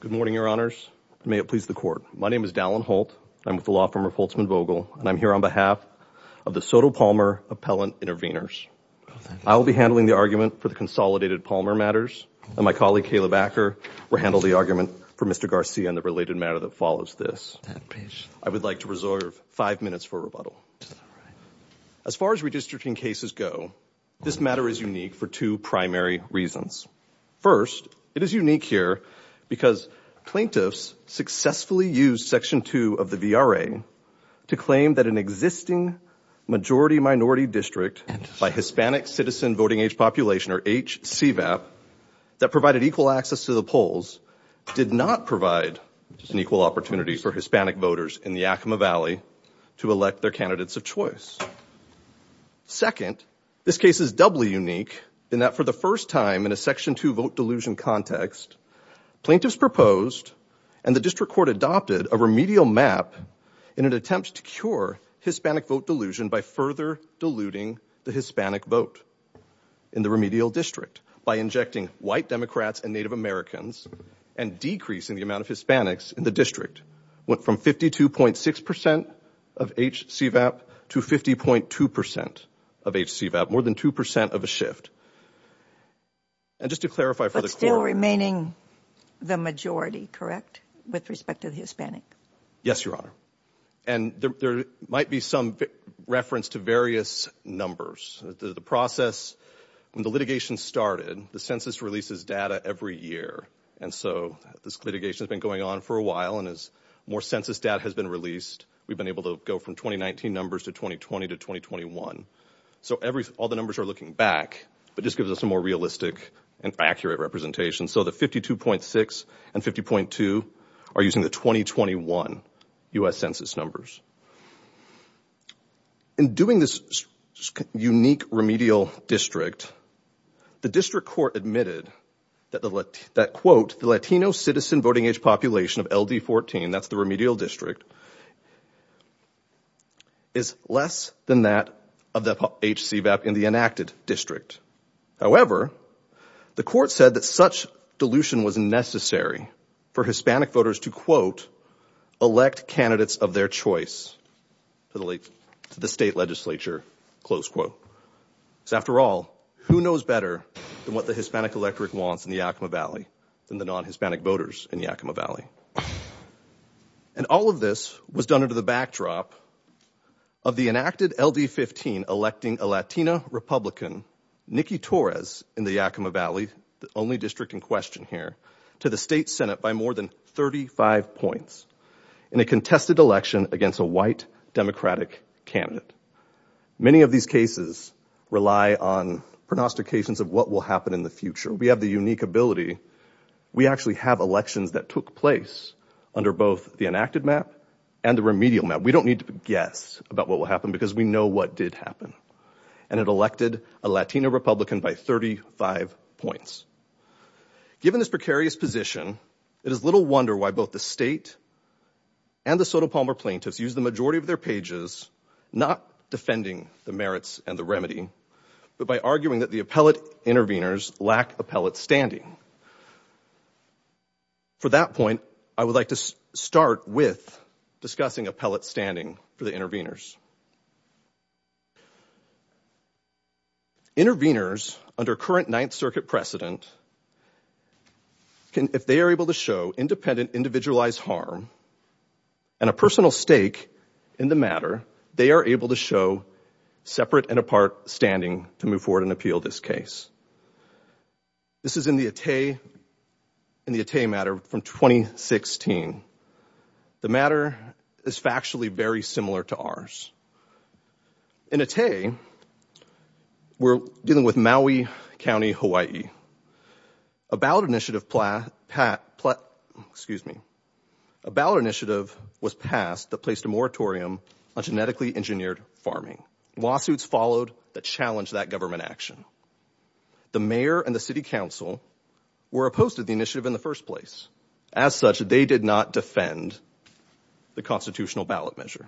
Good morning, your honors. May it please the court. My name is Dallin Holt. I'm with the law firm of Holtzman Vogel, and I'm here on behalf of the Soto Palmer Appellant Intervenors. I'll be handling the argument for the consolidated Palmer matters, and my colleague Caleb Acker will handle the argument for Mr. Garcia and the related matter that follows this. I would like to reserve five minutes for rebuttal. As far as redistricting cases go, this matter is unique for two primary reasons. First, it is unique here because plaintiffs successfully used Section 2 of the VRA to claim that an existing majority-minority district by Hispanic Citizen Voting Age Population, or HCVAP, that provided equal access to the polls, did not provide an equal opportunity for Hispanic voters in the Yakima Valley to elect their candidates of choice. Second, this case is doubly unique in that for the first time in a Section 2 vote delusion context, plaintiffs proposed and the district court adopted a remedial map in an attempt to cure Hispanic vote delusion by further diluting the Hispanic vote in the remedial district, by injecting white Democrats and Native Americans and decreasing the amount of Hispanics in the district, went from 52.6% of HCVAP to 50.2% of HCVAP, more than 2% of a shift. And just to clarify for the court— But still remaining the majority, correct, with respect to the Hispanic? Yes, Your Honor. And there might be some reference to various numbers. The process, when the litigation started, the census releases data every year, and so this litigation has been going on for a while, and as more census data has been released, we've been able to go from 2019 numbers to 2020 to 2021. So all the numbers are looking back, but this gives us a more realistic and accurate representation. So the 52.6 and 50.2 are using the 2021 U.S. census numbers. In doing this unique remedial district, the district court admitted that, quote, the Latino citizen voting age population of LD14, that's the remedial district, is less than that of the HCVAP in the enacted district. However, the court said that such dilution was necessary for Hispanic voters to, quote, elect candidates of their choice to the state legislature, close quote. Because after all, who knows better than what the Hispanic electorate wants in the Yakima Valley than the non-Hispanic voters in the Yakima Valley? And all of this was done under the backdrop of the enacted LD15, electing a Latina Republican, Nikki Torres, in the Yakima Valley, the only district in question here, to the state Senate by more than 35 points in a contested election against a white Democratic candidate. Many of these cases rely on pronostications of what will happen in the future. We have the unique ability. We actually have elections that took place under both the enacted map and the remedial map. We don't need to guess about what will happen because we know what did happen. And it elected a Latina Republican by 35 points. Given this precarious position, it is little wonder why both the state and the Soto Palmer plaintiffs used the majority of their pages, not defending the merits and the remedy, but by arguing that the appellate intervenors lack appellate standing. For that point, I would like to start with discussing appellate standing for the intervenors. Intervenors, under current Ninth Circuit precedent, if they are able to show independent individualized harm and a personal stake in the matter, they are able to show separate and apart standing to move forward and appeal this case. This is in the Attei matter from 2016. The matter is factually very similar to ours. In Attei, we're dealing with Maui County, Hawaii. A ballot initiative was passed that placed a moratorium on genetically engineered farming. Lawsuits followed that challenged that government action. The mayor and the city council were opposed to the initiative in the first place. As such, they did not defend the constitutional ballot measure.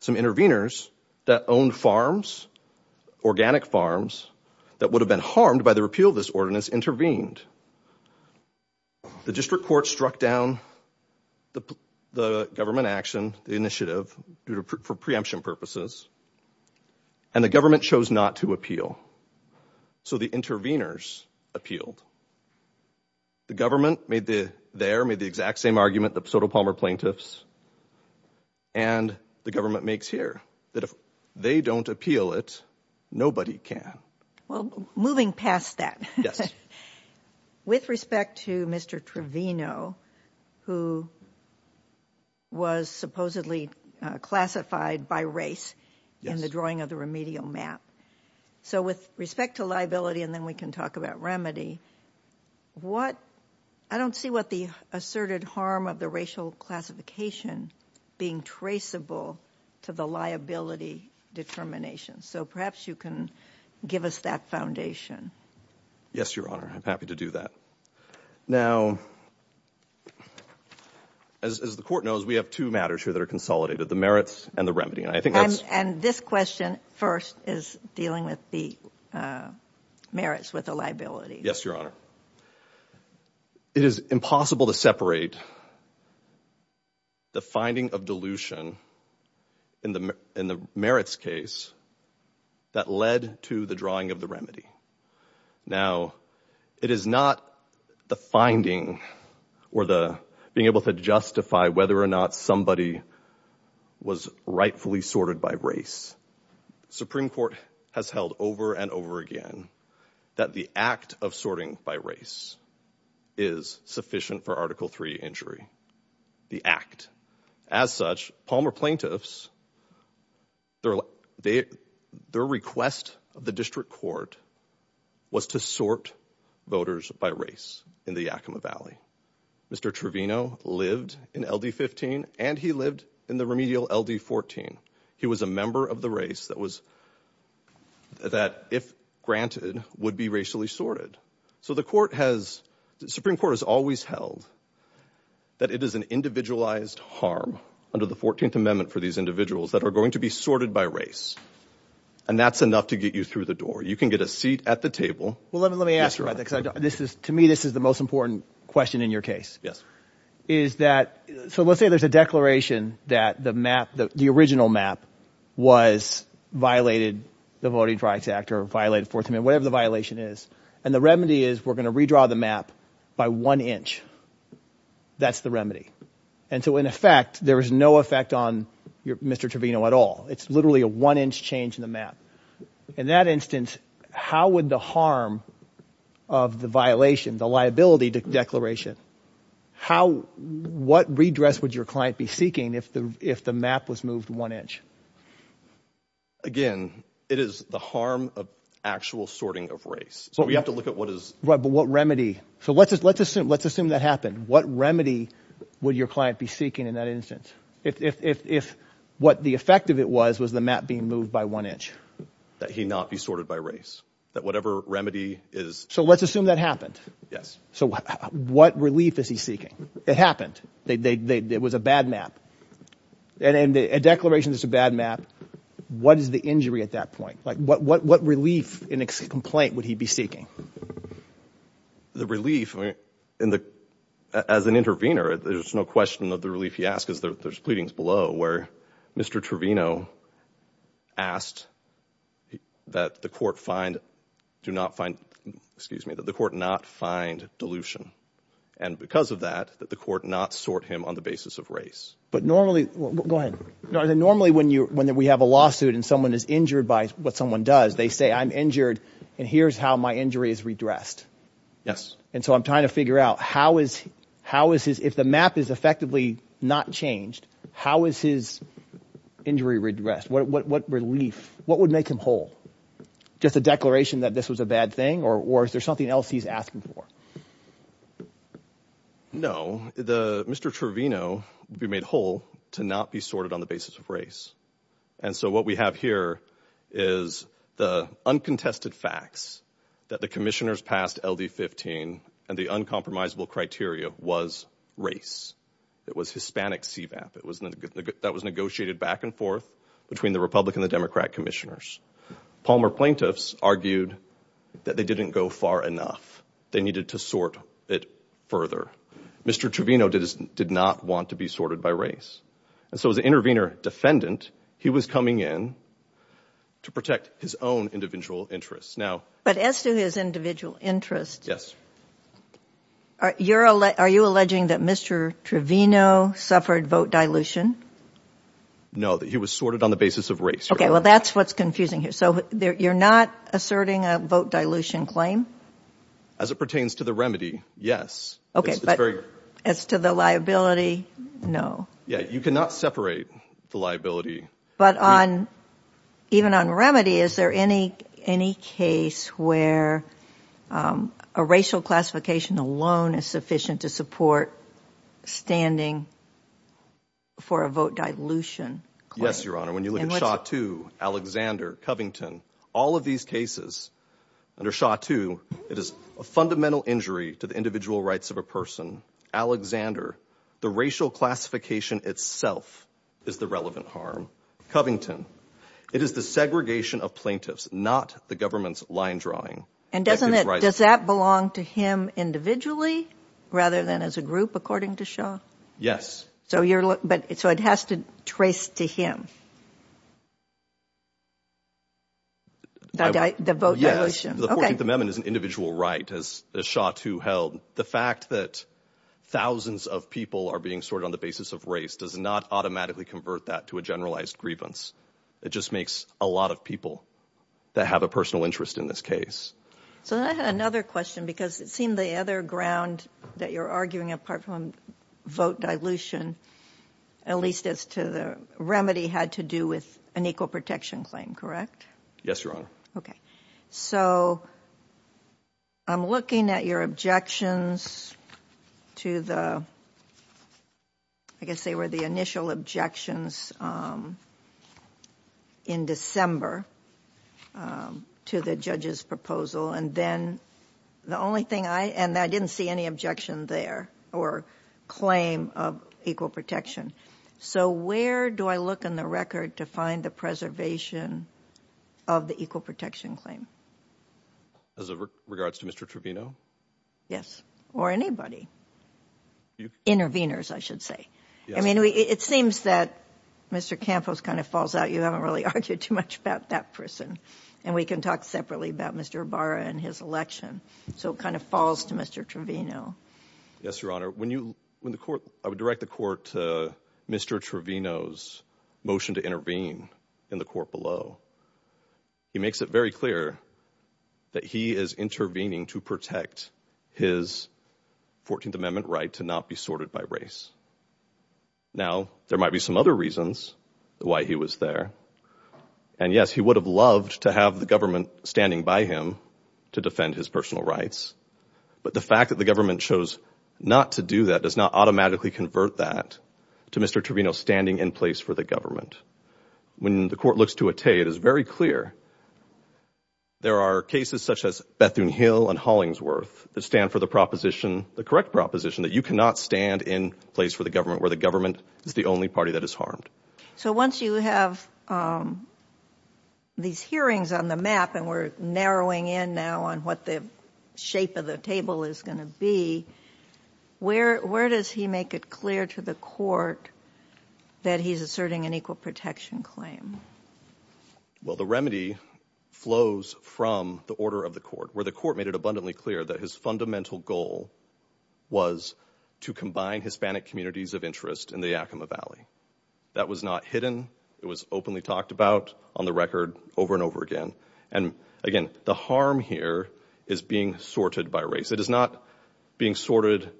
Some intervenors that owned farms, organic farms, that would have been harmed by the repeal of this ordinance intervened. The district court struck down the government action, the initiative, for preemption purposes, and the government chose not to appeal. So the intervenors appealed. The government there made the exact same argument, the Soto Palmer plaintiffs, and the government makes here that if they don't appeal it, nobody can. Well, moving past that, with respect to Mr. Trevino, who was supposedly classified by race in the drawing of the remedial map. So with respect to liability, and then we can talk about remedy, I don't see what the asserted harm of the racial classification being traceable to the liability determination. So perhaps you can give us that foundation. Yes, Your Honor. I'm happy to do that. Now, as the court knows, we have two matters here that are consolidated, the merits and the remedy. And this question first is dealing with the merits with the liability. Yes, Your Honor. It is impossible to separate the finding of dilution in the merits case that led to the drawing of the remedy. Now, it is not the finding or the being able to justify whether or not somebody was rightfully sorted by race. Supreme Court has held over and over again that the act of sorting by race is sufficient for Article 3 injury. The act. As such, Palmer plaintiffs, their request of the district court was to sort voters by race in the Yakima Valley. Mr. Trevino lived in LD15 and he lived in the remedial LD14. He was a member of the race that was that, if granted, would be racially sorted. So the court has the Supreme Court has always held that it is an individualized harm under the 14th Amendment for these individuals that are going to be sorted by race. And that's enough to get you through the door. You can get a seat at the table. Well, let me let me ask you this is to me. This is the most important question in your case. Yes. Is that so let's say there's a declaration that the map, the original map was violated, the Voting Rights Act or violated for whatever the violation is. And the remedy is we're going to redraw the map by one inch. That's the remedy. And so, in effect, there is no effect on Mr. Trevino at all. It's literally a one inch change in the map. In that instance, how would the harm of the violation, the liability declaration, how what redress would your client be seeking if the if the map was moved one inch? Again, it is the harm of actual sorting of race. So we have to look at what is what remedy. So let's let's assume let's assume that happened. What remedy would your client be seeking in that instance? If what the effect of it was, was the map being moved by one inch that he not be sorted by race, that whatever remedy is. So let's assume that happened. Yes. So what relief is he seeking? It happened. It was a bad map and a declaration is a bad map. What is the injury at that point? Like what what what relief in a complaint would he be seeking? The relief in the as an intervener, there's no question that the relief he asked is that there's pleadings below where Mr. Trevino asked that the court find do not find excuse me, that the court not find dilution. And because of that, that the court not sort him on the basis of race. But normally go ahead. Normally when you when we have a lawsuit and someone is injured by what someone does, they say I'm injured and here's how my injury is redressed. Yes. And so I'm trying to figure out how is how is his if the map is effectively not changed? How is his injury redressed? What what relief? What would make him whole? Just a declaration that this was a bad thing or or is there something else he's asking for? No, the Mr. Trevino be made whole to not be sorted on the basis of race. And so what we have here is the uncontested facts that the commissioners passed L.D. 15 and the uncompromising criteria was race. It was Hispanic see that it was that was negotiated back and forth between the Republican, the Democrat commissioners. Palmer plaintiffs argued that they didn't go far enough. They needed to sort it further. Mr. Trevino did is did not want to be sorted by race. And so as an intervener defendant, he was coming in to protect his own individual interests. Now, but as to his individual interests. Yes. Are you're are you alleging that Mr. Trevino suffered vote dilution? No, that he was sorted on the basis of race. OK, well, that's what's confusing here. So you're not asserting a vote dilution claim as it pertains to the remedy? Yes. OK, but as to the liability? No. Yeah. You cannot separate the liability. But on even on remedy, is there any any case where a racial classification alone is sufficient to support standing? For a vote dilution. Yes, Your Honor. When you look at shot to Alexander Covington, all of these cases under shot to it is a fundamental injury to the individual rights of a person. Alexander, the racial classification itself is the relevant harm. Covington, it is the segregation of plaintiffs, not the government's line drawing. And doesn't that does that belong to him individually rather than as a group? According to Shaw? Yes. So you're. But so it has to trace to him. The vote. Yes. The 14th Amendment is an individual right as a shot to held. The fact that thousands of people are being sorted on the basis of race does not automatically convert that to a generalized grievance. It just makes a lot of people that have a personal interest in this case. So another question, because it seemed the other ground that you're arguing, apart from vote dilution, at least as to the remedy had to do with an equal protection claim. Correct. Yes, Your Honor. OK, so I'm looking at your objections to the. I guess they were the initial objections in December to the judge's proposal. And then the only thing I and I didn't see any objection there or claim of equal protection. So where do I look in the record to find the preservation of the equal protection claim? As it regards to Mr. Trevino. Yes. Or anybody. Interveners, I should say. I mean, it seems that Mr. Campos kind of falls out. You haven't really argued too much about that person. And we can talk separately about Mr. Barra and his election. So it kind of falls to Mr. Trevino. Yes, Your Honor. When you win the court, I would direct the court to Mr. Trevino's motion to intervene in the court below. He makes it very clear that he is intervening to protect his 14th Amendment right to not be sorted by race. Now, there might be some other reasons why he was there. And yes, he would have loved to have the government standing by him to defend his personal rights. But the fact that the government chose not to do that does not automatically convert that to Mr. Trevino standing in place for the government. When the court looks to a Tate, it is very clear there are cases such as Bethune Hill and Hollingsworth that stand for the proposition, the correct proposition that you cannot stand in place for the government where the government is the only party that is harmed. So once you have these hearings on the map and we're narrowing in now on what the shape of the table is going to be, where does he make it clear to the court that he's asserting an equal protection claim? Well, the remedy flows from the order of the court where the court made it abundantly clear that his fundamental goal was to combine Hispanic communities of interest in the Yakima Valley. That was not hidden. It was openly talked about on the record over and over again. And again, the harm here is being sorted by race. It is not being sorted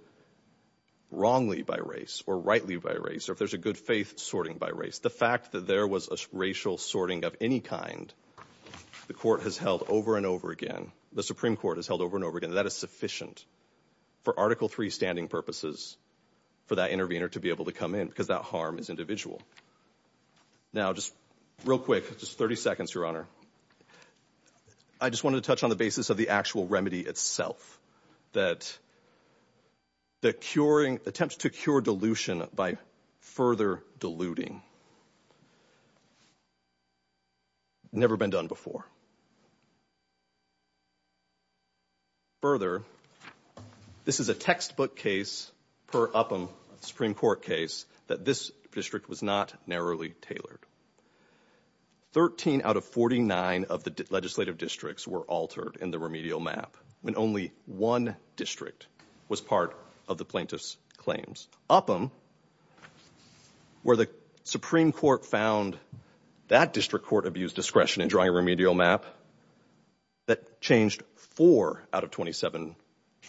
wrongly by race or rightly by race or if there's a good faith sorting by race. The fact that there was a racial sorting of any kind, the court has held over and over again. The Supreme Court has held over and over again that is sufficient for Article 3 standing purposes for that intervener to be able to come in because that harm is individual. Now, just real quick, just 30 seconds, Your Honor. I just wanted to touch on the basis of the actual remedy itself. That the attempt to cure dilution by further diluting, never been done before. Further, this is a textbook case per Upham Supreme Court case that this district was not narrowly tailored. 13 out of 49 of the legislative districts were altered in the remedial map when only one district was part of the plaintiff's claims. Upham, where the Supreme Court found that district court abused discretion in drawing a remedial map, that changed four out of 27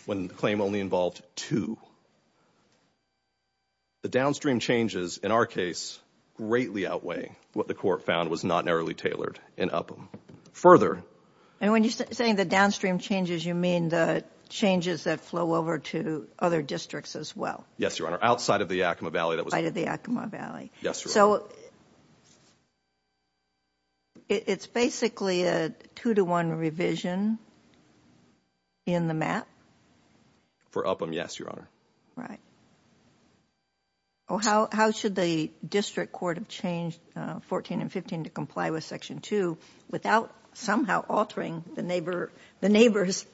when the claim only involved two. The downstream changes in our case greatly outweigh what the court found was not narrowly tailored in Upham. Further... And when you're saying the downstream changes, you mean the changes that flow over to other districts as well? Yes, Your Honor. Outside of the Yakima Valley that was... Outside of the Yakima Valley. Yes, Your Honor. So, it's basically a two-to-one revision in the map? For Upham, yes, Your Honor. Right. How should the district court have changed 14 and 15 to comply with Section 2 without somehow altering the neighbor's...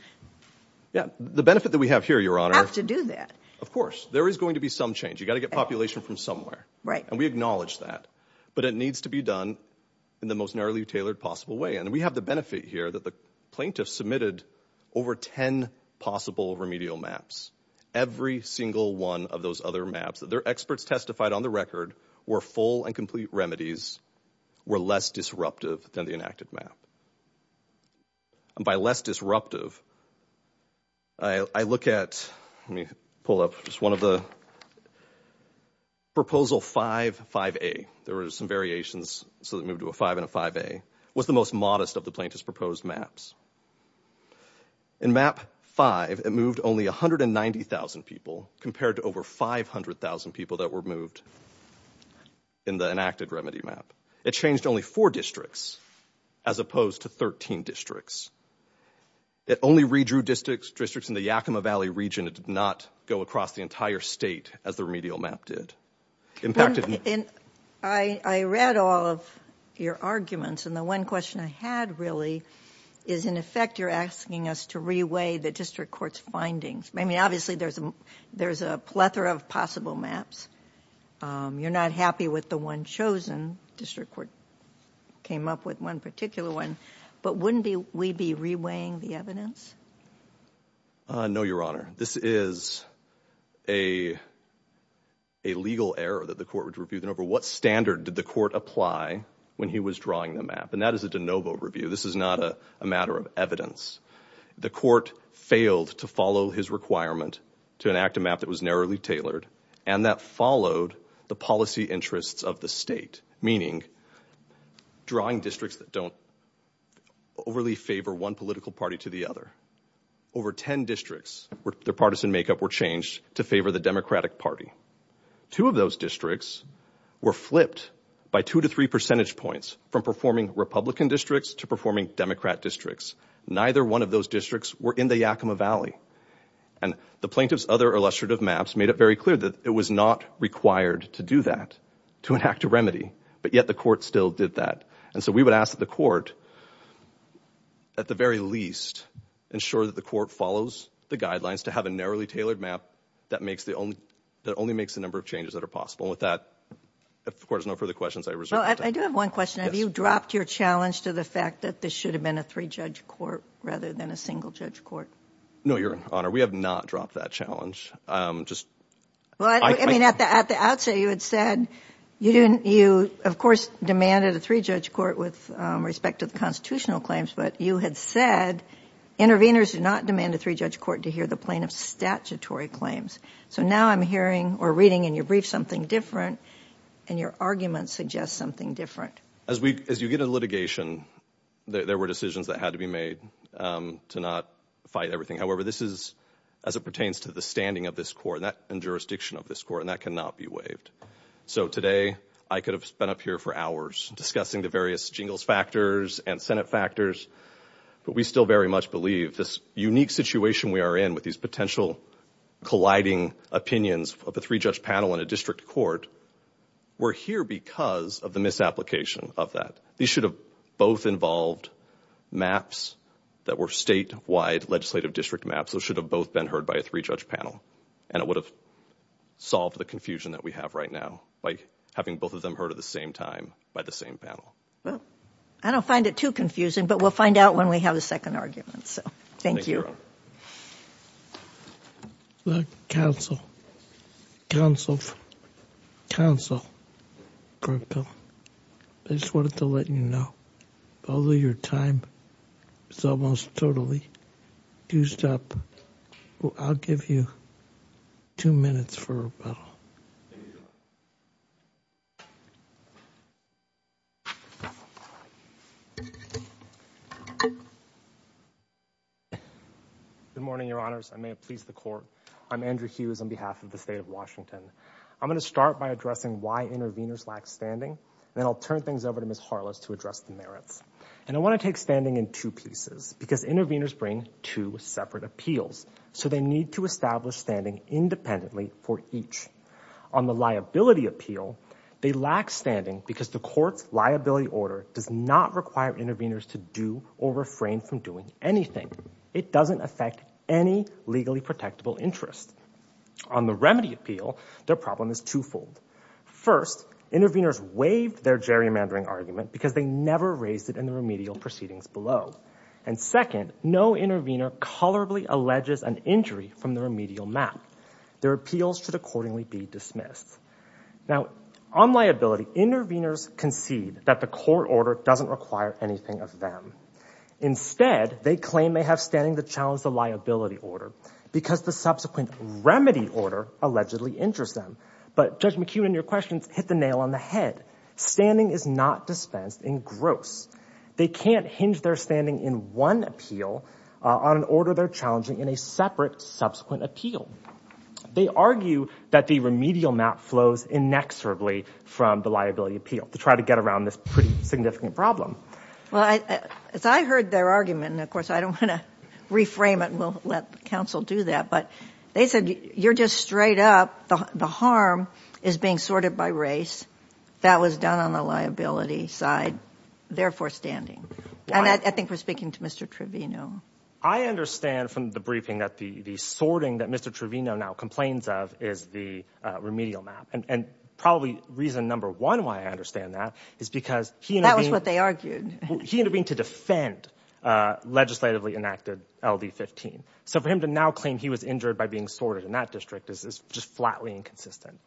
Yeah, the benefit that we have here, Your Honor... Have to do that. Of course. There is going to be some change. You've got to get population from somewhere. Right. And we acknowledge that. But it needs to be done in the most narrowly tailored possible way. And we have the benefit here that the plaintiff submitted over 10 possible remedial maps. Every single one of those other maps that their experts testified on the record were full and complete remedies, were less disruptive than the enacted map. And by less disruptive, I look at... Let me pull up just one of the Proposal 5, 5A. There were some variations, so they moved to a 5 and a 5A. What's the most modest of the plaintiff's proposed maps? In Map 5, it moved only 190,000 people compared to over 500,000 people that were moved in the enacted remedy map. It changed only four districts as opposed to 13 districts. It only redrew districts in the Yakima Valley region. It did not go across the entire state as the remedial map did. I read all of your arguments, and the one question I had really is, in effect, you're asking us to reweigh the district court's findings. I mean, obviously, there's a plethora of possible maps. You're not happy with the one chosen. District court came up with one particular one. But wouldn't we be reweighing the evidence? No, Your Honor. This is a legal error that the court would review. What standard did the court apply when he was drawing the map? And that is a de novo review. This is not a matter of evidence. The court failed to follow his requirement to enact a map that was narrowly tailored and that followed the policy interests of the state, meaning drawing districts that don't overly favor one political party to the other. Over 10 districts, their partisan makeup were changed to favor the Democratic Party. Two of those districts were flipped by two to three percentage points from performing Republican districts to performing Democrat districts. Neither one of those districts were in the Yakima Valley. And the plaintiff's other illustrative maps made it very clear that it was not required to do that, to enact a remedy. But yet the court still did that. And so we would ask that the court, at the very least, ensure that the court follows the guidelines to have a narrowly tailored map that only makes the number of changes that are possible. And with that, if the court has no further questions, I reserve the time. Well, I do have one question. Have you dropped your challenge to the fact that this should have been a three-judge court rather than a single-judge court? No, Your Honor. We have not dropped that challenge. I mean, at the outset, you had said you, of course, demanded a three-judge court with respect to the constitutional claims, but you had said interveners do not demand a three-judge court to hear the plaintiff's statutory claims. So now I'm hearing or reading in your brief something different, and your argument suggests something different. As you get into litigation, there were decisions that had to be made to not fight everything. However, this is as it pertains to the standing of this court and jurisdiction of this court, and that cannot be waived. So today I could have been up here for hours discussing the various jingles factors and Senate factors, but we still very much believe this unique situation we are in with these potential colliding opinions of a three-judge panel in a district court were here because of the misapplication of that. These should have both involved maps that were statewide legislative district maps. Those should have both been heard by a three-judge panel, and it would have solved the confusion that we have right now by having both of them heard at the same time by the same panel. Well, I don't find it too confusing, but we'll find out when we have a second argument. So thank you. Thank you, Your Honor. Counsel, counsel, counsel, I just wanted to let you know, although your time is almost totally used up, I'll give you two minutes for rebuttal. Good morning, Your Honors. I may have pleased the court. I'm Andrew Hughes on behalf of the state of Washington. I'm going to start by addressing why interveners lack standing, and then I'll turn things over to Ms. Harless to address the merits. And I want to take standing in two pieces because interveners bring two separate appeals, so they need to establish standing independently for each. On the liability appeal, they lack standing because the court's liability order does not require interveners to do or refrain from doing anything. It doesn't affect any legally protectable interest. On the remedy appeal, their problem is twofold. First, interveners waived their gerrymandering argument because they never raised it in the remedial proceedings below. And second, no intervener colorably alleges an injury from the remedial map. Their appeals should accordingly be dismissed. Now, on liability, interveners concede that the court order doesn't require anything of them. Instead, they claim they have standing to challenge the liability order because the subsequent remedy order allegedly injures them. But, Judge McEwen, your questions hit the nail on the head. Standing is not dispensed in gross. They can't hinge their standing in one appeal on an order they're challenging in a separate subsequent appeal. They argue that the remedial map flows inexorably from the liability appeal to try to get around this pretty significant problem. Well, as I heard their argument, and of course I don't want to reframe it and we'll let counsel do that, but they said you're just straight up, the harm is being sorted by race. That was done on the liability side. Therefore, standing. And I think we're speaking to Mr. Trevino. I understand from the briefing that the sorting that Mr. Trevino now complains of is the remedial map. And probably reason number one why I understand that is because he intervened to defend legislatively enacted LD-15. So for him to now claim he was injured by being sorted in that district is just flatly inconsistent.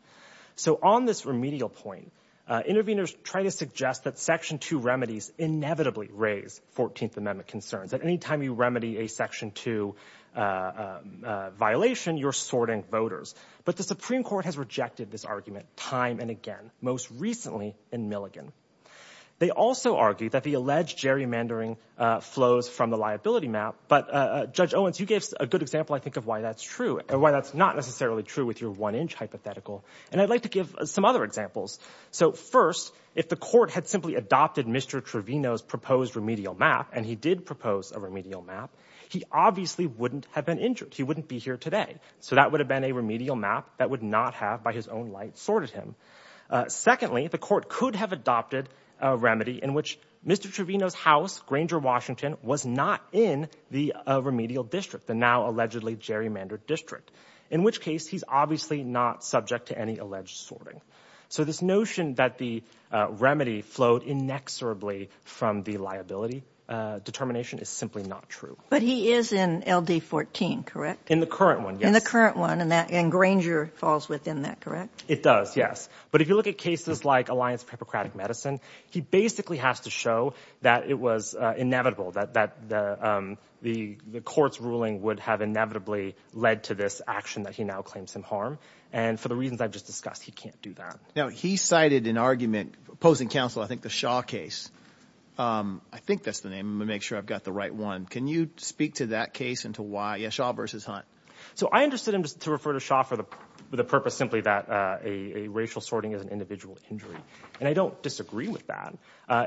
So on this remedial point, interveners try to suggest that Section 2 remedies inevitably raise 14th Amendment concerns. At any time you remedy a Section 2 violation, you're sorting voters. But the Supreme Court has rejected this argument time and again, most recently in Milligan. They also argue that the alleged gerrymandering flows from the liability map. But Judge Owens, you gave a good example, I think, of why that's true, and why that's not necessarily true with your one-inch hypothetical. And I'd like to give some other examples. So first, if the court had simply adopted Mr. Trevino's proposed remedial map, and he did propose a remedial map, he obviously wouldn't have been injured. He wouldn't be here today. So that would have been a remedial map that would not have, by his own light, sorted him. Secondly, the court could have adopted a remedy in which Mr. Trevino's house, Granger, Washington, was not in the remedial district, the now allegedly gerrymandered district, in which case he's obviously not subject to any alleged sorting. So this notion that the remedy flowed inexorably from the liability determination is simply not true. But he is in LD-14, correct? In the current one, yes. In the current one, and Granger falls within that, correct? It does, yes. But if you look at cases like Alliance for Hippocratic Medicine, he basically has to show that it was inevitable, that the court's ruling would have inevitably led to this action that he now claims him harm. And for the reasons I've just discussed, he can't do that. Now, he cited an argument opposing counsel, I think the Shaw case. I think that's the name. I'm going to make sure I've got the right one. Can you speak to that case and to why? Yeah, Shaw v. Hunt. So I understood him to refer to Shaw for the purpose simply that a racial sorting is an individual injury. And I don't disagree with that.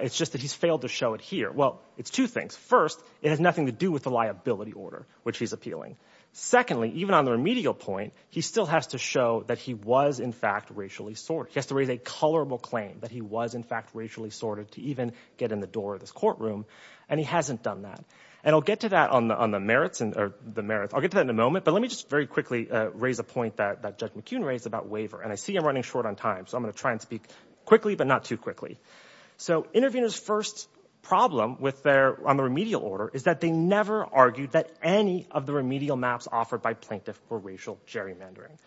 It's just that he's failed to show it here. Well, it's two things. First, it has nothing to do with the liability order, which he's appealing. Secondly, even on the remedial point, he still has to show that he was, in fact, racially sorted. He has to raise a colorable claim that he was, in fact, racially sorted to even get in the door of this courtroom. And he hasn't done that. And I'll get to that on the merits. I'll get to that in a moment, but let me just very quickly raise a point that Judge McKeon raised about waiver. And I see I'm running short on time, so I'm going to try and speak quickly, but not too quickly. So Intervenors' first problem on the remedial order is that they never argued that any of the remedial maps offered by plaintiffs were racial gerrymandering.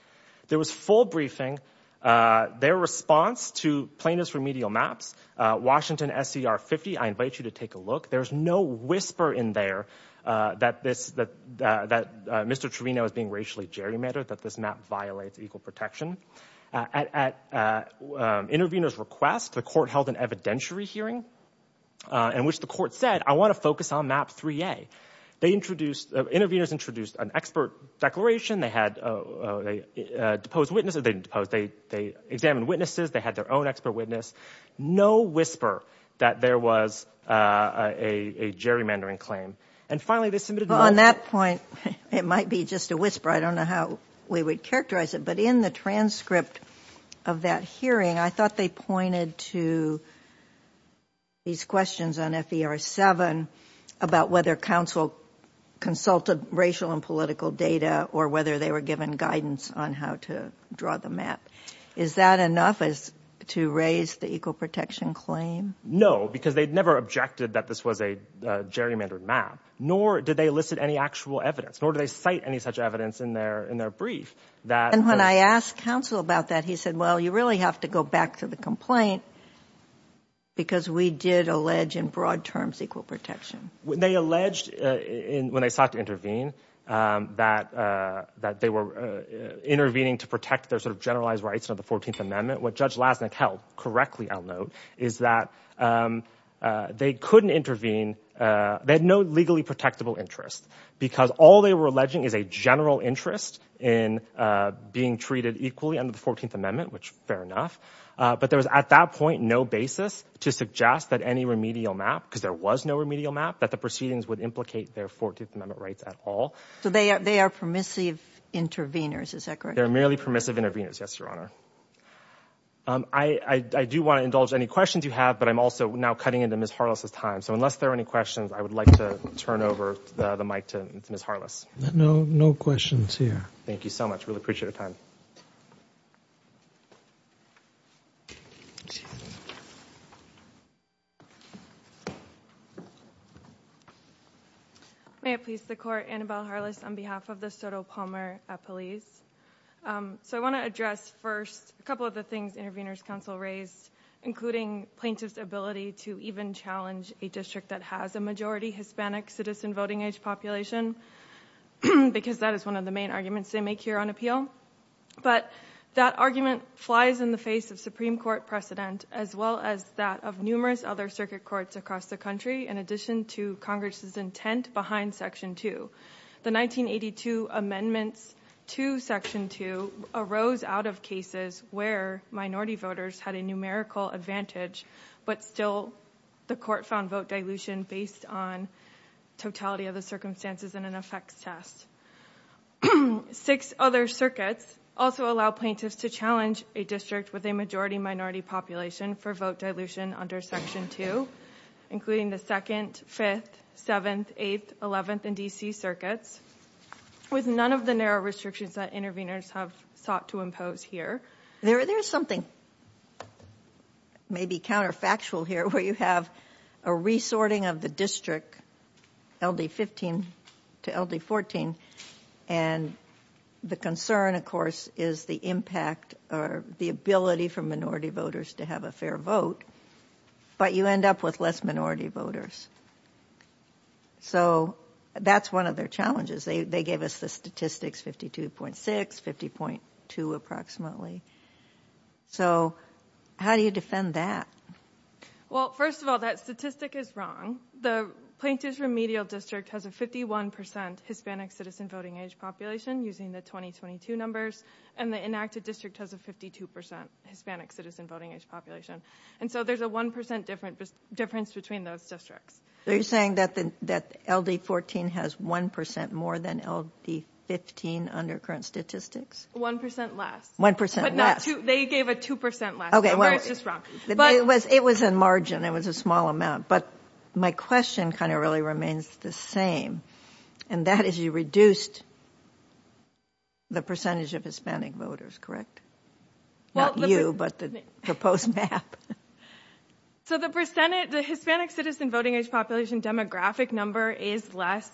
There was full briefing. Their response to plaintiffs' remedial maps, Washington SCR 50, I invite you to take a look. There's no whisper in there that Mr. Trevino is being racially gerrymandered, that this map violates equal protection. At Intervenors' request, the court held an evidentiary hearing in which the court said, I want to focus on Map 3A. Intervenors introduced an expert declaration. They had a deposed witness. They didn't depose. They examined witnesses. They had their own expert witness. No whisper that there was a gerrymandering claim. And, finally, they submitted more. Well, on that point, it might be just a whisper. I don't know how we would characterize it. But in the transcript of that hearing, I thought they pointed to these questions on FER 7 about whether counsel consulted racial and political data or whether they were given guidance on how to draw the map. Is that enough to raise the equal protection claim? No, because they never objected that this was a gerrymandered map, nor did they elicit any actual evidence, nor did they cite any such evidence in their brief. And when I asked counsel about that, he said, well, you really have to go back to the complaint because we did allege in broad terms equal protection. They alleged when they sought to intervene that they were intervening to protect their sort of generalized rights under the 14th Amendment. What Judge Lasnik held correctly, I'll note, is that they couldn't intervene. They had no legally protectable interest because all they were alleging is a general interest in being treated equally under the 14th Amendment, which fair enough. But there was at that point no basis to suggest that any remedial map, because there was no remedial map, that the proceedings would implicate their 14th Amendment rights at all. So they are permissive intervenors, is that correct? They're merely permissive intervenors, yes, Your Honor. I do want to indulge any questions you have, but I'm also now cutting into Ms. Harless's time. So unless there are any questions, I would like to turn over the mic to Ms. Harless. No questions here. Thank you so much. Really appreciate your time. May it please the Court, Annabelle Harless on behalf of the Soto Palmer Police. So I want to address first a couple of the things Intervenors' Counsel raised, including plaintiffs' ability to even challenge a district that has a majority Hispanic citizen voting age population, because that is one of the main arguments they make here on appeal. But that argument flies in the face of Supreme Court precedent, as well as that of numerous other circuit courts across the country, in addition to Congress' intent behind Section 2. The 1982 amendments to Section 2 arose out of cases where minority voters had a numerical advantage, but still the Court found vote dilution based on totality of the circumstances in an effects test. Six other circuits also allow plaintiffs to challenge a district with a majority-minority population for vote dilution under Section 2, including the 2nd, 5th, 7th, 8th, 11th, and D.C. circuits, with none of the narrow restrictions that intervenors have sought to impose here. There is something maybe counterfactual here where you have a resorting of the district, LD15 to LD14, and the concern, of course, is the impact or the ability for minority voters to have a fair vote, but you end up with less minority voters. So, that's one of their challenges. They gave us the statistics, 52.6, 50.2 approximately. So, how do you defend that? Well, first of all, that statistic is wrong. The Plaintiffs' Remedial District has a 51% Hispanic citizen voting age population, using the 2022 numbers, and the Enacted District has a 52% Hispanic citizen voting age population. And so, there's a 1% difference between those districts. Are you saying that LD14 has 1% more than LD15 under current statistics? 1% less. 1% less. They gave a 2% less. Okay, well, it was a margin. It was a small amount, but my question kind of really remains the same, and that is you reduced the percentage of Hispanic voters, correct? Not you, but the proposed map. So, the Hispanic citizen voting age population demographic number is less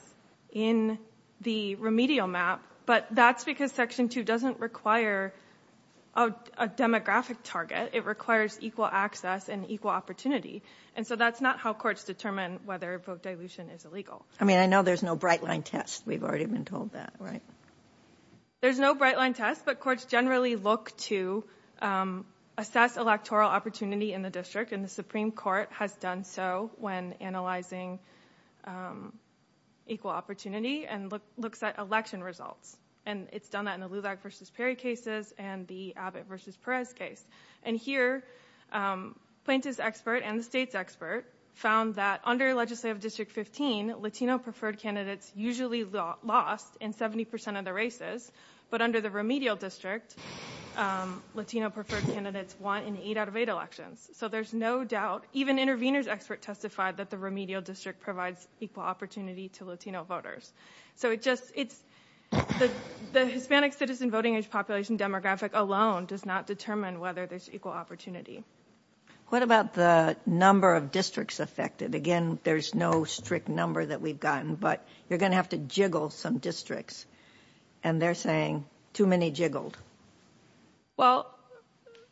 in the remedial map, but that's because Section 2 doesn't require a demographic target. It requires equal access and equal opportunity, and so that's not how courts determine whether vote dilution is illegal. I mean, I know there's no bright-line test. We've already been told that, right? There's no bright-line test, but courts generally look to assess electoral opportunity in the district, and the Supreme Court has done so when analyzing equal opportunity and looks at election results, and it's done that in the Lulag v. Perry cases and the Abbott v. Perez case. And here, plaintiff's expert and the state's expert found that under Legislative District 15, Latino-preferred candidates usually lost in 70% of the races, but under the remedial district, Latino-preferred candidates won in 8 out of 8 elections. So, there's no doubt. Even intervener's expert testified that the remedial district provides equal opportunity to Latino voters. So, the Hispanic citizen voting age population demographic alone does not determine whether there's equal opportunity. What about the number of districts affected? Again, there's no strict number that we've gotten, but you're going to have to jiggle some districts, and they're saying too many jiggled. Well,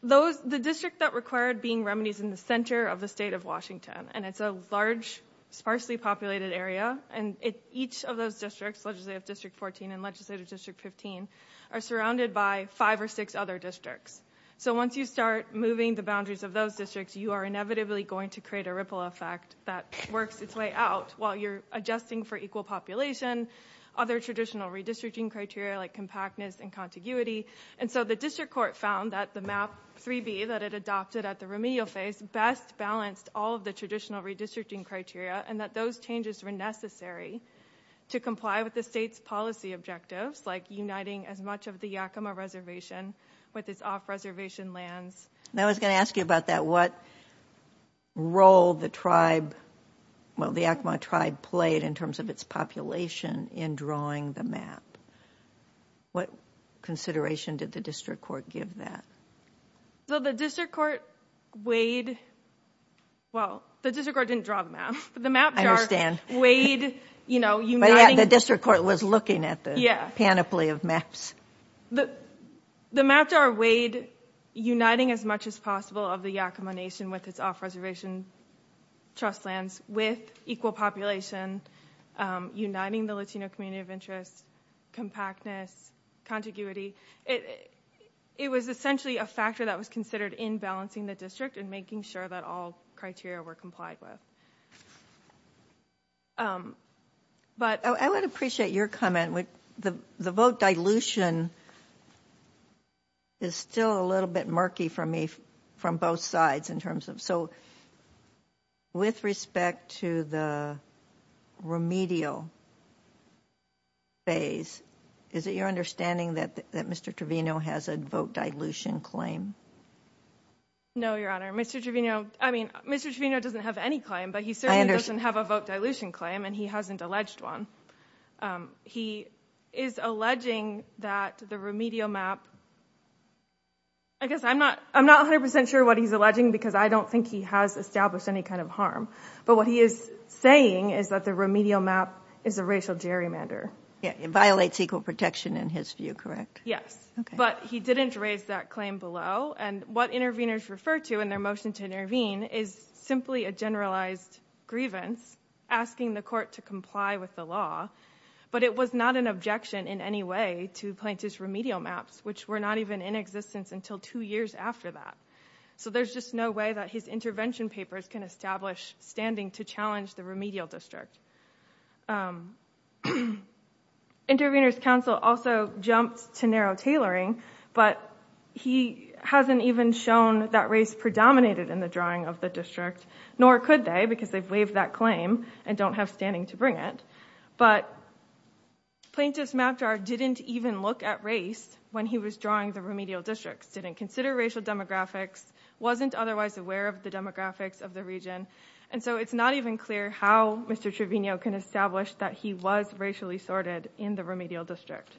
the district that required being remedies in the center of the state of Washington, and it's a large, sparsely populated area, and each of those districts, Legislative District 14 and Legislative District 15, are surrounded by five or six other districts. So, once you start moving the boundaries of those districts, you are inevitably going to create a ripple effect that works its way out while you're adjusting for equal population, other traditional redistricting criteria like compactness and contiguity. And so, the district court found that the map 3B that it adopted at the remedial phase best balanced all of the traditional redistricting criteria and that those changes were necessary to comply with the state's policy objectives like uniting as much of the Yakima Reservation with its off-reservation lands. And I was going to ask you about that. What role the tribe, well, the Yakima tribe, played in terms of its population in drawing the map? What consideration did the district court give that? So, the district court weighed, well, the district court didn't draw the map. I understand. But the map jar weighed, you know, uniting. But, yeah, the district court was looking at the panoply of maps. The map jar weighed uniting as much as possible of the Yakima Nation with its off-reservation trust lands with equal population, uniting the Latino community of interest, compactness, contiguity. It was essentially a factor that was considered in balancing the district and making sure that all criteria were complied with. I would appreciate your comment. The vote dilution is still a little bit murky for me from both sides. So, with respect to the remedial phase, is it your understanding that Mr. Trevino has a vote dilution claim? No, Your Honor. Mr. Trevino, I mean, Mr. Trevino doesn't have any claim, but he certainly doesn't have a vote dilution claim, and he hasn't alleged one. He is alleging that the remedial map, I guess I'm not 100 percent sure what he's alleging because I don't think he has established any kind of harm. But what he is saying is that the remedial map is a racial gerrymander. It violates equal protection in his view, correct? Yes. But he didn't raise that claim below. And what interveners refer to in their motion to intervene is simply a generalized grievance, asking the court to comply with the law. But it was not an objection in any way to Plaintiff's remedial maps, which were not even in existence until two years after that. So there's just no way that his intervention papers can establish standing to challenge the remedial district. Interveners' counsel also jumped to narrow tailoring, but he hasn't even shown that race predominated in the drawing of the district, nor could they because they've waived that claim and don't have standing to bring it. But Plaintiff's map drawer didn't even look at race when he was drawing the remedial district, didn't consider racial demographics, wasn't otherwise aware of the demographics of the region. And so it's not even clear how Mr. Trevino can establish that he was racially assorted in the remedial district.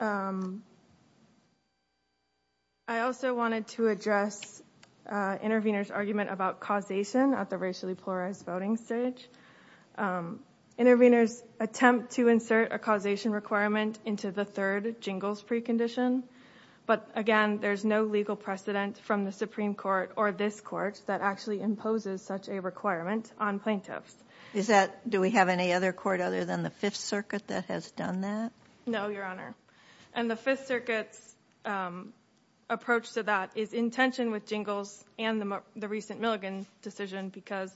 I also wanted to address intervener's argument about causation at the racially polarized voting stage. Interveners attempt to insert a causation requirement into the third jingles precondition, but again, there's no legal precedent from the Supreme Court or this court that actually imposes such a requirement on plaintiffs. Do we have any other court other than the Fifth Circuit that has done that? No, Your Honor. And the Fifth Circuit's approach to that is in tension with jingles and the recent Milligan decision because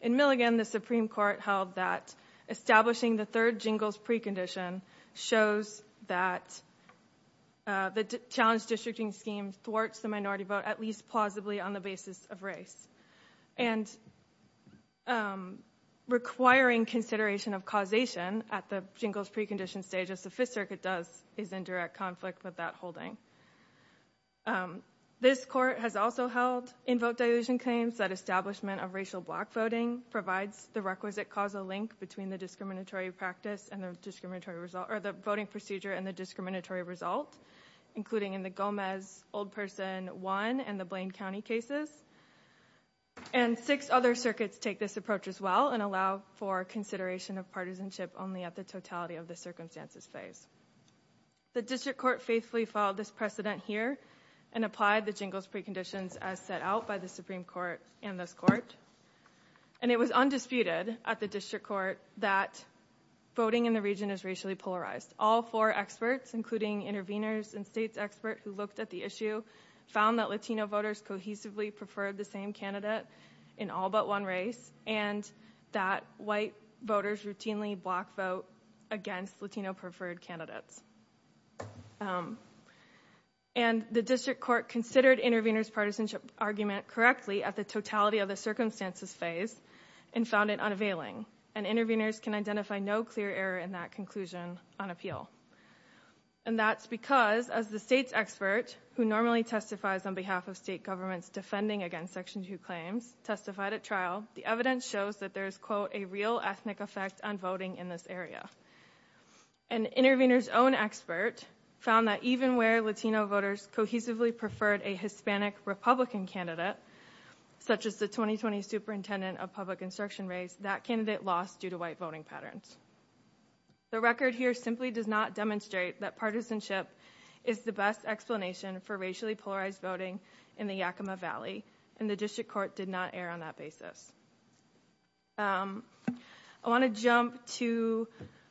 in Milligan, the Supreme Court held that establishing the third jingles precondition shows that the challenge districting scheme thwarts the minority vote at least plausibly on the basis of race. And requiring consideration of causation at the jingles precondition stage, as the Fifth Circuit does, is in direct conflict with that holding. This court has also held in vote dilution claims that establishment of racial black voting provides the requisite causal link between the voting procedure and the discriminatory result, including in the Gomez Old Person 1 and the Blaine County cases. And six other circuits take this approach as well and allow for consideration of partisanship only at the totality of the circumstances phase. The District Court faithfully followed this precedent here and applied the jingles preconditions as set out by the Supreme Court and this court. And it was undisputed at the District Court that voting in the region is racially polarized. All four experts, including intervenors and states expert who looked at the issue, found that Latino voters cohesively preferred the same candidate in all but one race and that white voters routinely block vote against Latino preferred candidates. And the District Court considered intervenors' partisanship argument correctly at the totality of the circumstances phase and found it unavailing. And intervenors can identify no clear error in that conclusion on appeal. And that's because as the state's expert, who normally testifies on behalf of state governments defending against Section 2 claims, testified at trial, the evidence shows that there is, quote, a real ethnic effect on voting in this area. An intervenor's own expert found that even where Latino voters cohesively preferred a Hispanic Republican candidate, such as the 2020 Superintendent of Public Instruction race, that candidate lost due to white voting patterns. The record here simply does not demonstrate that partisanship is the best explanation for racially polarized voting in the Yakima Valley. And the District Court did not err on that basis. I want to jump to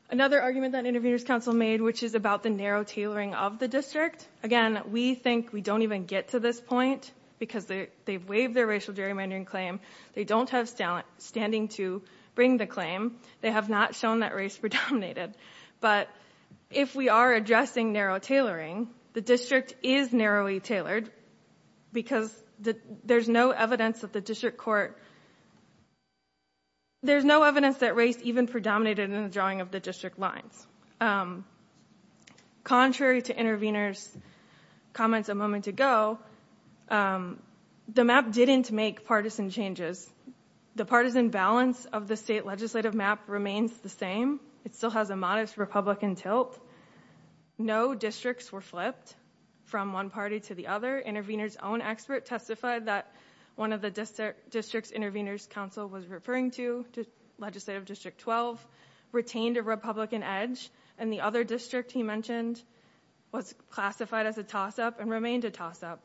another argument that intervenors' counsel made, which is about the narrow tailoring of the district. Again, we think we don't even get to this point because they've waived their racial gerrymandering claim. They don't have standing to bring the claim. They have not shown that race predominated. But if we are addressing narrow tailoring, the district is narrowly tailored because there's no evidence that the District Court, there's no evidence that race even predominated in the drawing of the district lines. Contrary to intervenors' comments a moment ago, the map didn't make partisan changes. The partisan balance of the state legislative map remains the same. It still has a modest Republican tilt. No districts were flipped from one party to the other. Intervenors' own expert testified that one of the districts intervenors' counsel was referring to, Legislative District 12, retained a Republican edge, and the other district he mentioned was classified as a toss-up and remained a toss-up.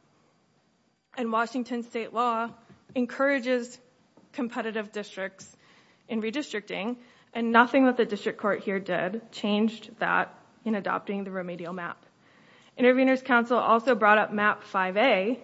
And Washington state law encourages competitive districts in redistricting, and nothing that the District Court here did changed that in adopting the remedial map. Intervenors' counsel also brought up Map 5A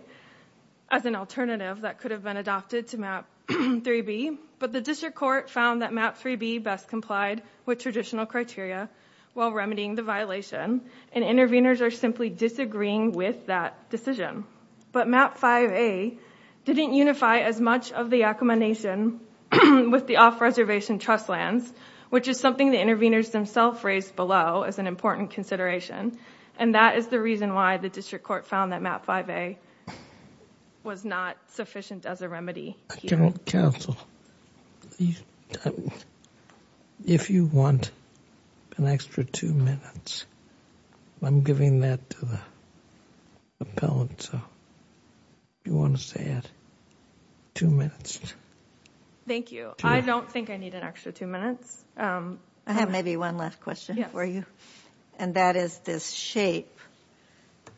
as an alternative that could have been adopted to Map 3B, but the District Court found that Map 3B best complied with traditional criteria while remedying the violation, and intervenors are simply disagreeing with that decision. But Map 5A didn't unify as much of the Yakama Nation with the off-reservation trust lands, which is something the intervenors themselves raised below as an important consideration, and that is the reason why the District Court found that Map 5A was not sufficient as a remedy. Counsel, if you want an extra two minutes, I'm giving that to the appellant, so if you want to stay at two minutes. Thank you. I don't think I need an extra two minutes. I have maybe one last question for you, and that is this shape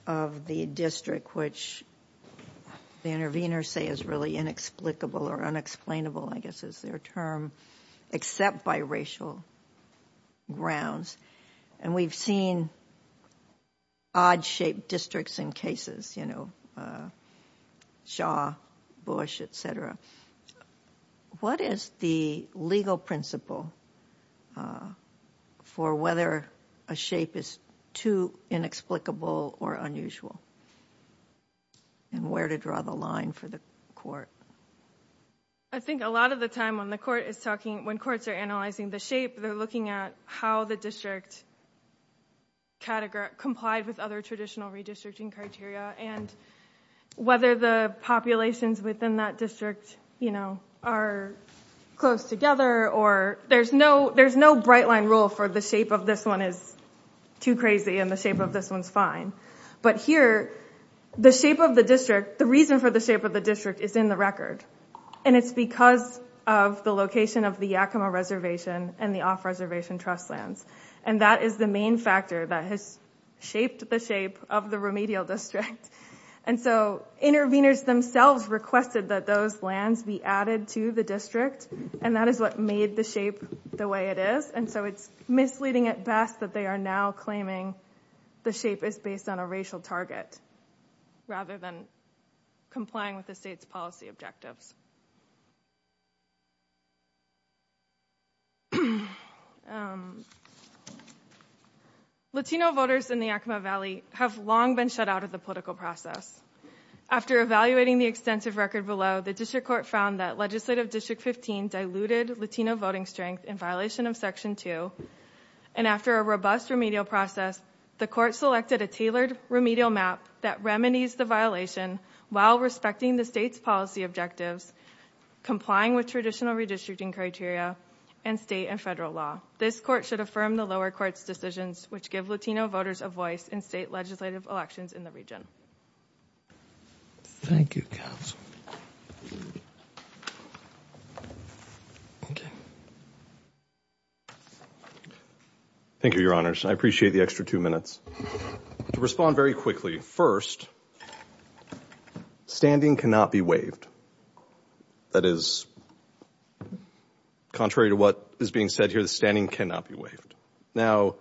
of the district, which the intervenors say is really inexplicable or unexplainable, I guess is their term, except by racial grounds, and we've seen odd-shaped districts in cases, you know, Shaw, Bush, et cetera. What is the legal principle for whether a shape is too inexplicable or unusual, and where to draw the line for the court? I think a lot of the time when the court is talking, when courts are analyzing the shape, they're looking at how the district complied with other traditional redistricting criteria and whether the populations within that district, you know, are close together, or there's no bright-line rule for the shape of this one is too crazy and the shape of this one's fine. But here, the shape of the district, the reason for the shape of the district is in the record, and it's because of the location of the Yakima Reservation and the off-reservation trust lands, and that is the main factor that has shaped the shape of the remedial district. And so intervenors themselves requested that those lands be added to the district, and that is what made the shape the way it is, and so it's misleading at best that they are now claiming the shape is based on a racial target rather than complying with the state's policy objectives. Latino voters in the Yakima Valley have long been shut out of the political process. After evaluating the extensive record below, the district court found that legislative District 15 diluted Latino voting strength in violation of Section 2, and after a robust remedial process, the court selected a tailored remedial map that remedies the violation while respecting the state's policy objectives, complying with traditional redistricting criteria, and state and federal law. This court should affirm the lower court's decisions, which give Latino voters a voice in state legislative elections in the region. Thank you, Counsel. Thank you, Your Honors. I appreciate the extra two minutes. To respond very quickly, first, standing cannot be waived. That is, contrary to what is being said here, the standing cannot be waived. Now,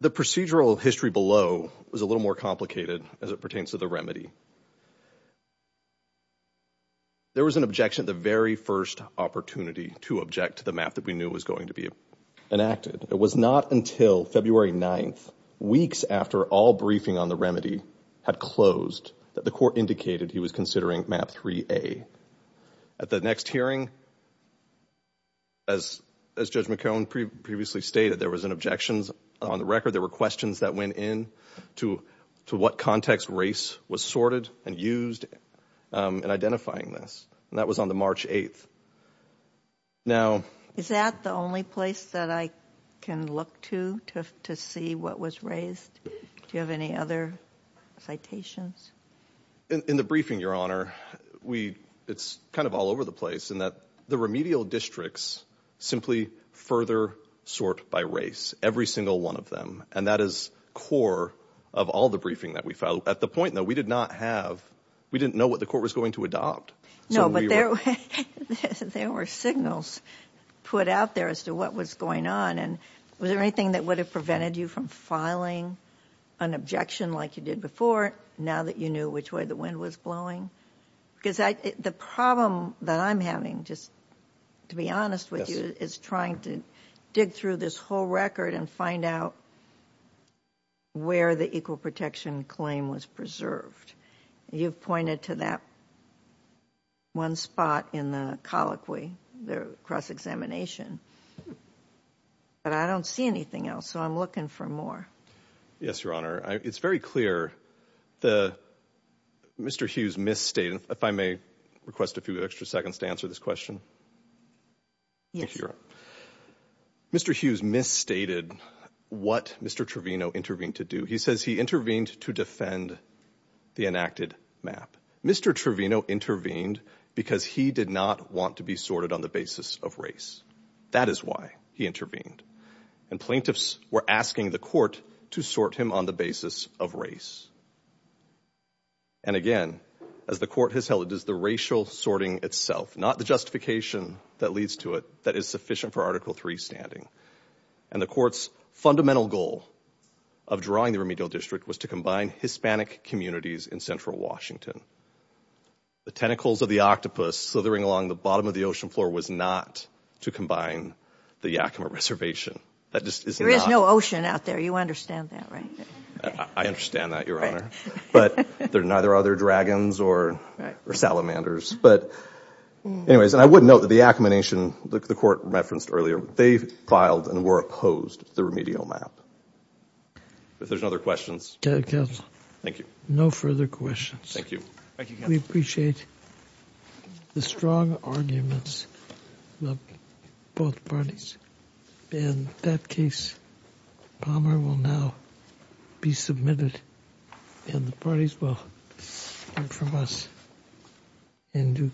the procedural history below was a little more complicated as it pertains to the remedy. There was an objection at the very first opportunity to object to the map that we knew was going to be enacted. It was not until February 9th, weeks after all briefing on the remedy had closed, that the court indicated he was considering Map 3A. At the next hearing, as Judge McCone previously stated, there was an objection on the record. There were questions that went in to what context race was sorted and used in identifying this, and that was on the March 8th. Is that the only place that I can look to to see what was raised? Do you have any other citations? In the briefing, Your Honor, it's kind of all over the place, in that the remedial districts simply further sort by race, every single one of them. And that is core of all the briefing that we filed. At the point, though, we did not have, we didn't know what the court was going to adopt. No, but there were signals put out there as to what was going on. And was there anything that would have prevented you from filing an objection like you did before? Now that you knew which way the wind was blowing? Because the problem that I'm having, just to be honest with you, is trying to dig through this whole record and find out where the equal protection claim was preserved. You've pointed to that one spot in the colloquy, the cross-examination. But I don't see anything else, so I'm looking for more. Yes, Your Honor, it's very clear. Mr. Hughes misstated, if I may request a few extra seconds to answer this question. Yes. Mr. Hughes misstated what Mr. Trevino intervened to do. He says he intervened to defend the enacted map. Mr. Trevino intervened because he did not want to be sorted on the basis of race. That is why he intervened. And plaintiffs were asking the court to sort him on the basis of race. And again, as the court has held, it is the racial sorting itself, not the justification that leads to it, that is sufficient for Article III standing. And the court's fundamental goal of drawing the remedial district was to combine Hispanic communities in central Washington. The tentacles of the octopus slithering along the bottom of the ocean floor was not to combine the Yakima Reservation. There is no ocean out there. You understand that, right? I understand that, Your Honor. But there are neither other dragons or salamanders. But anyways, I would note that the Yakima Nation, the court referenced earlier, they filed and were opposed to the remedial map. If there's no other questions. Thank you. No further questions. Thank you. We appreciate the strong arguments of both parties. In that case, Palmer will now be submitted and the parties will hear from us in due course.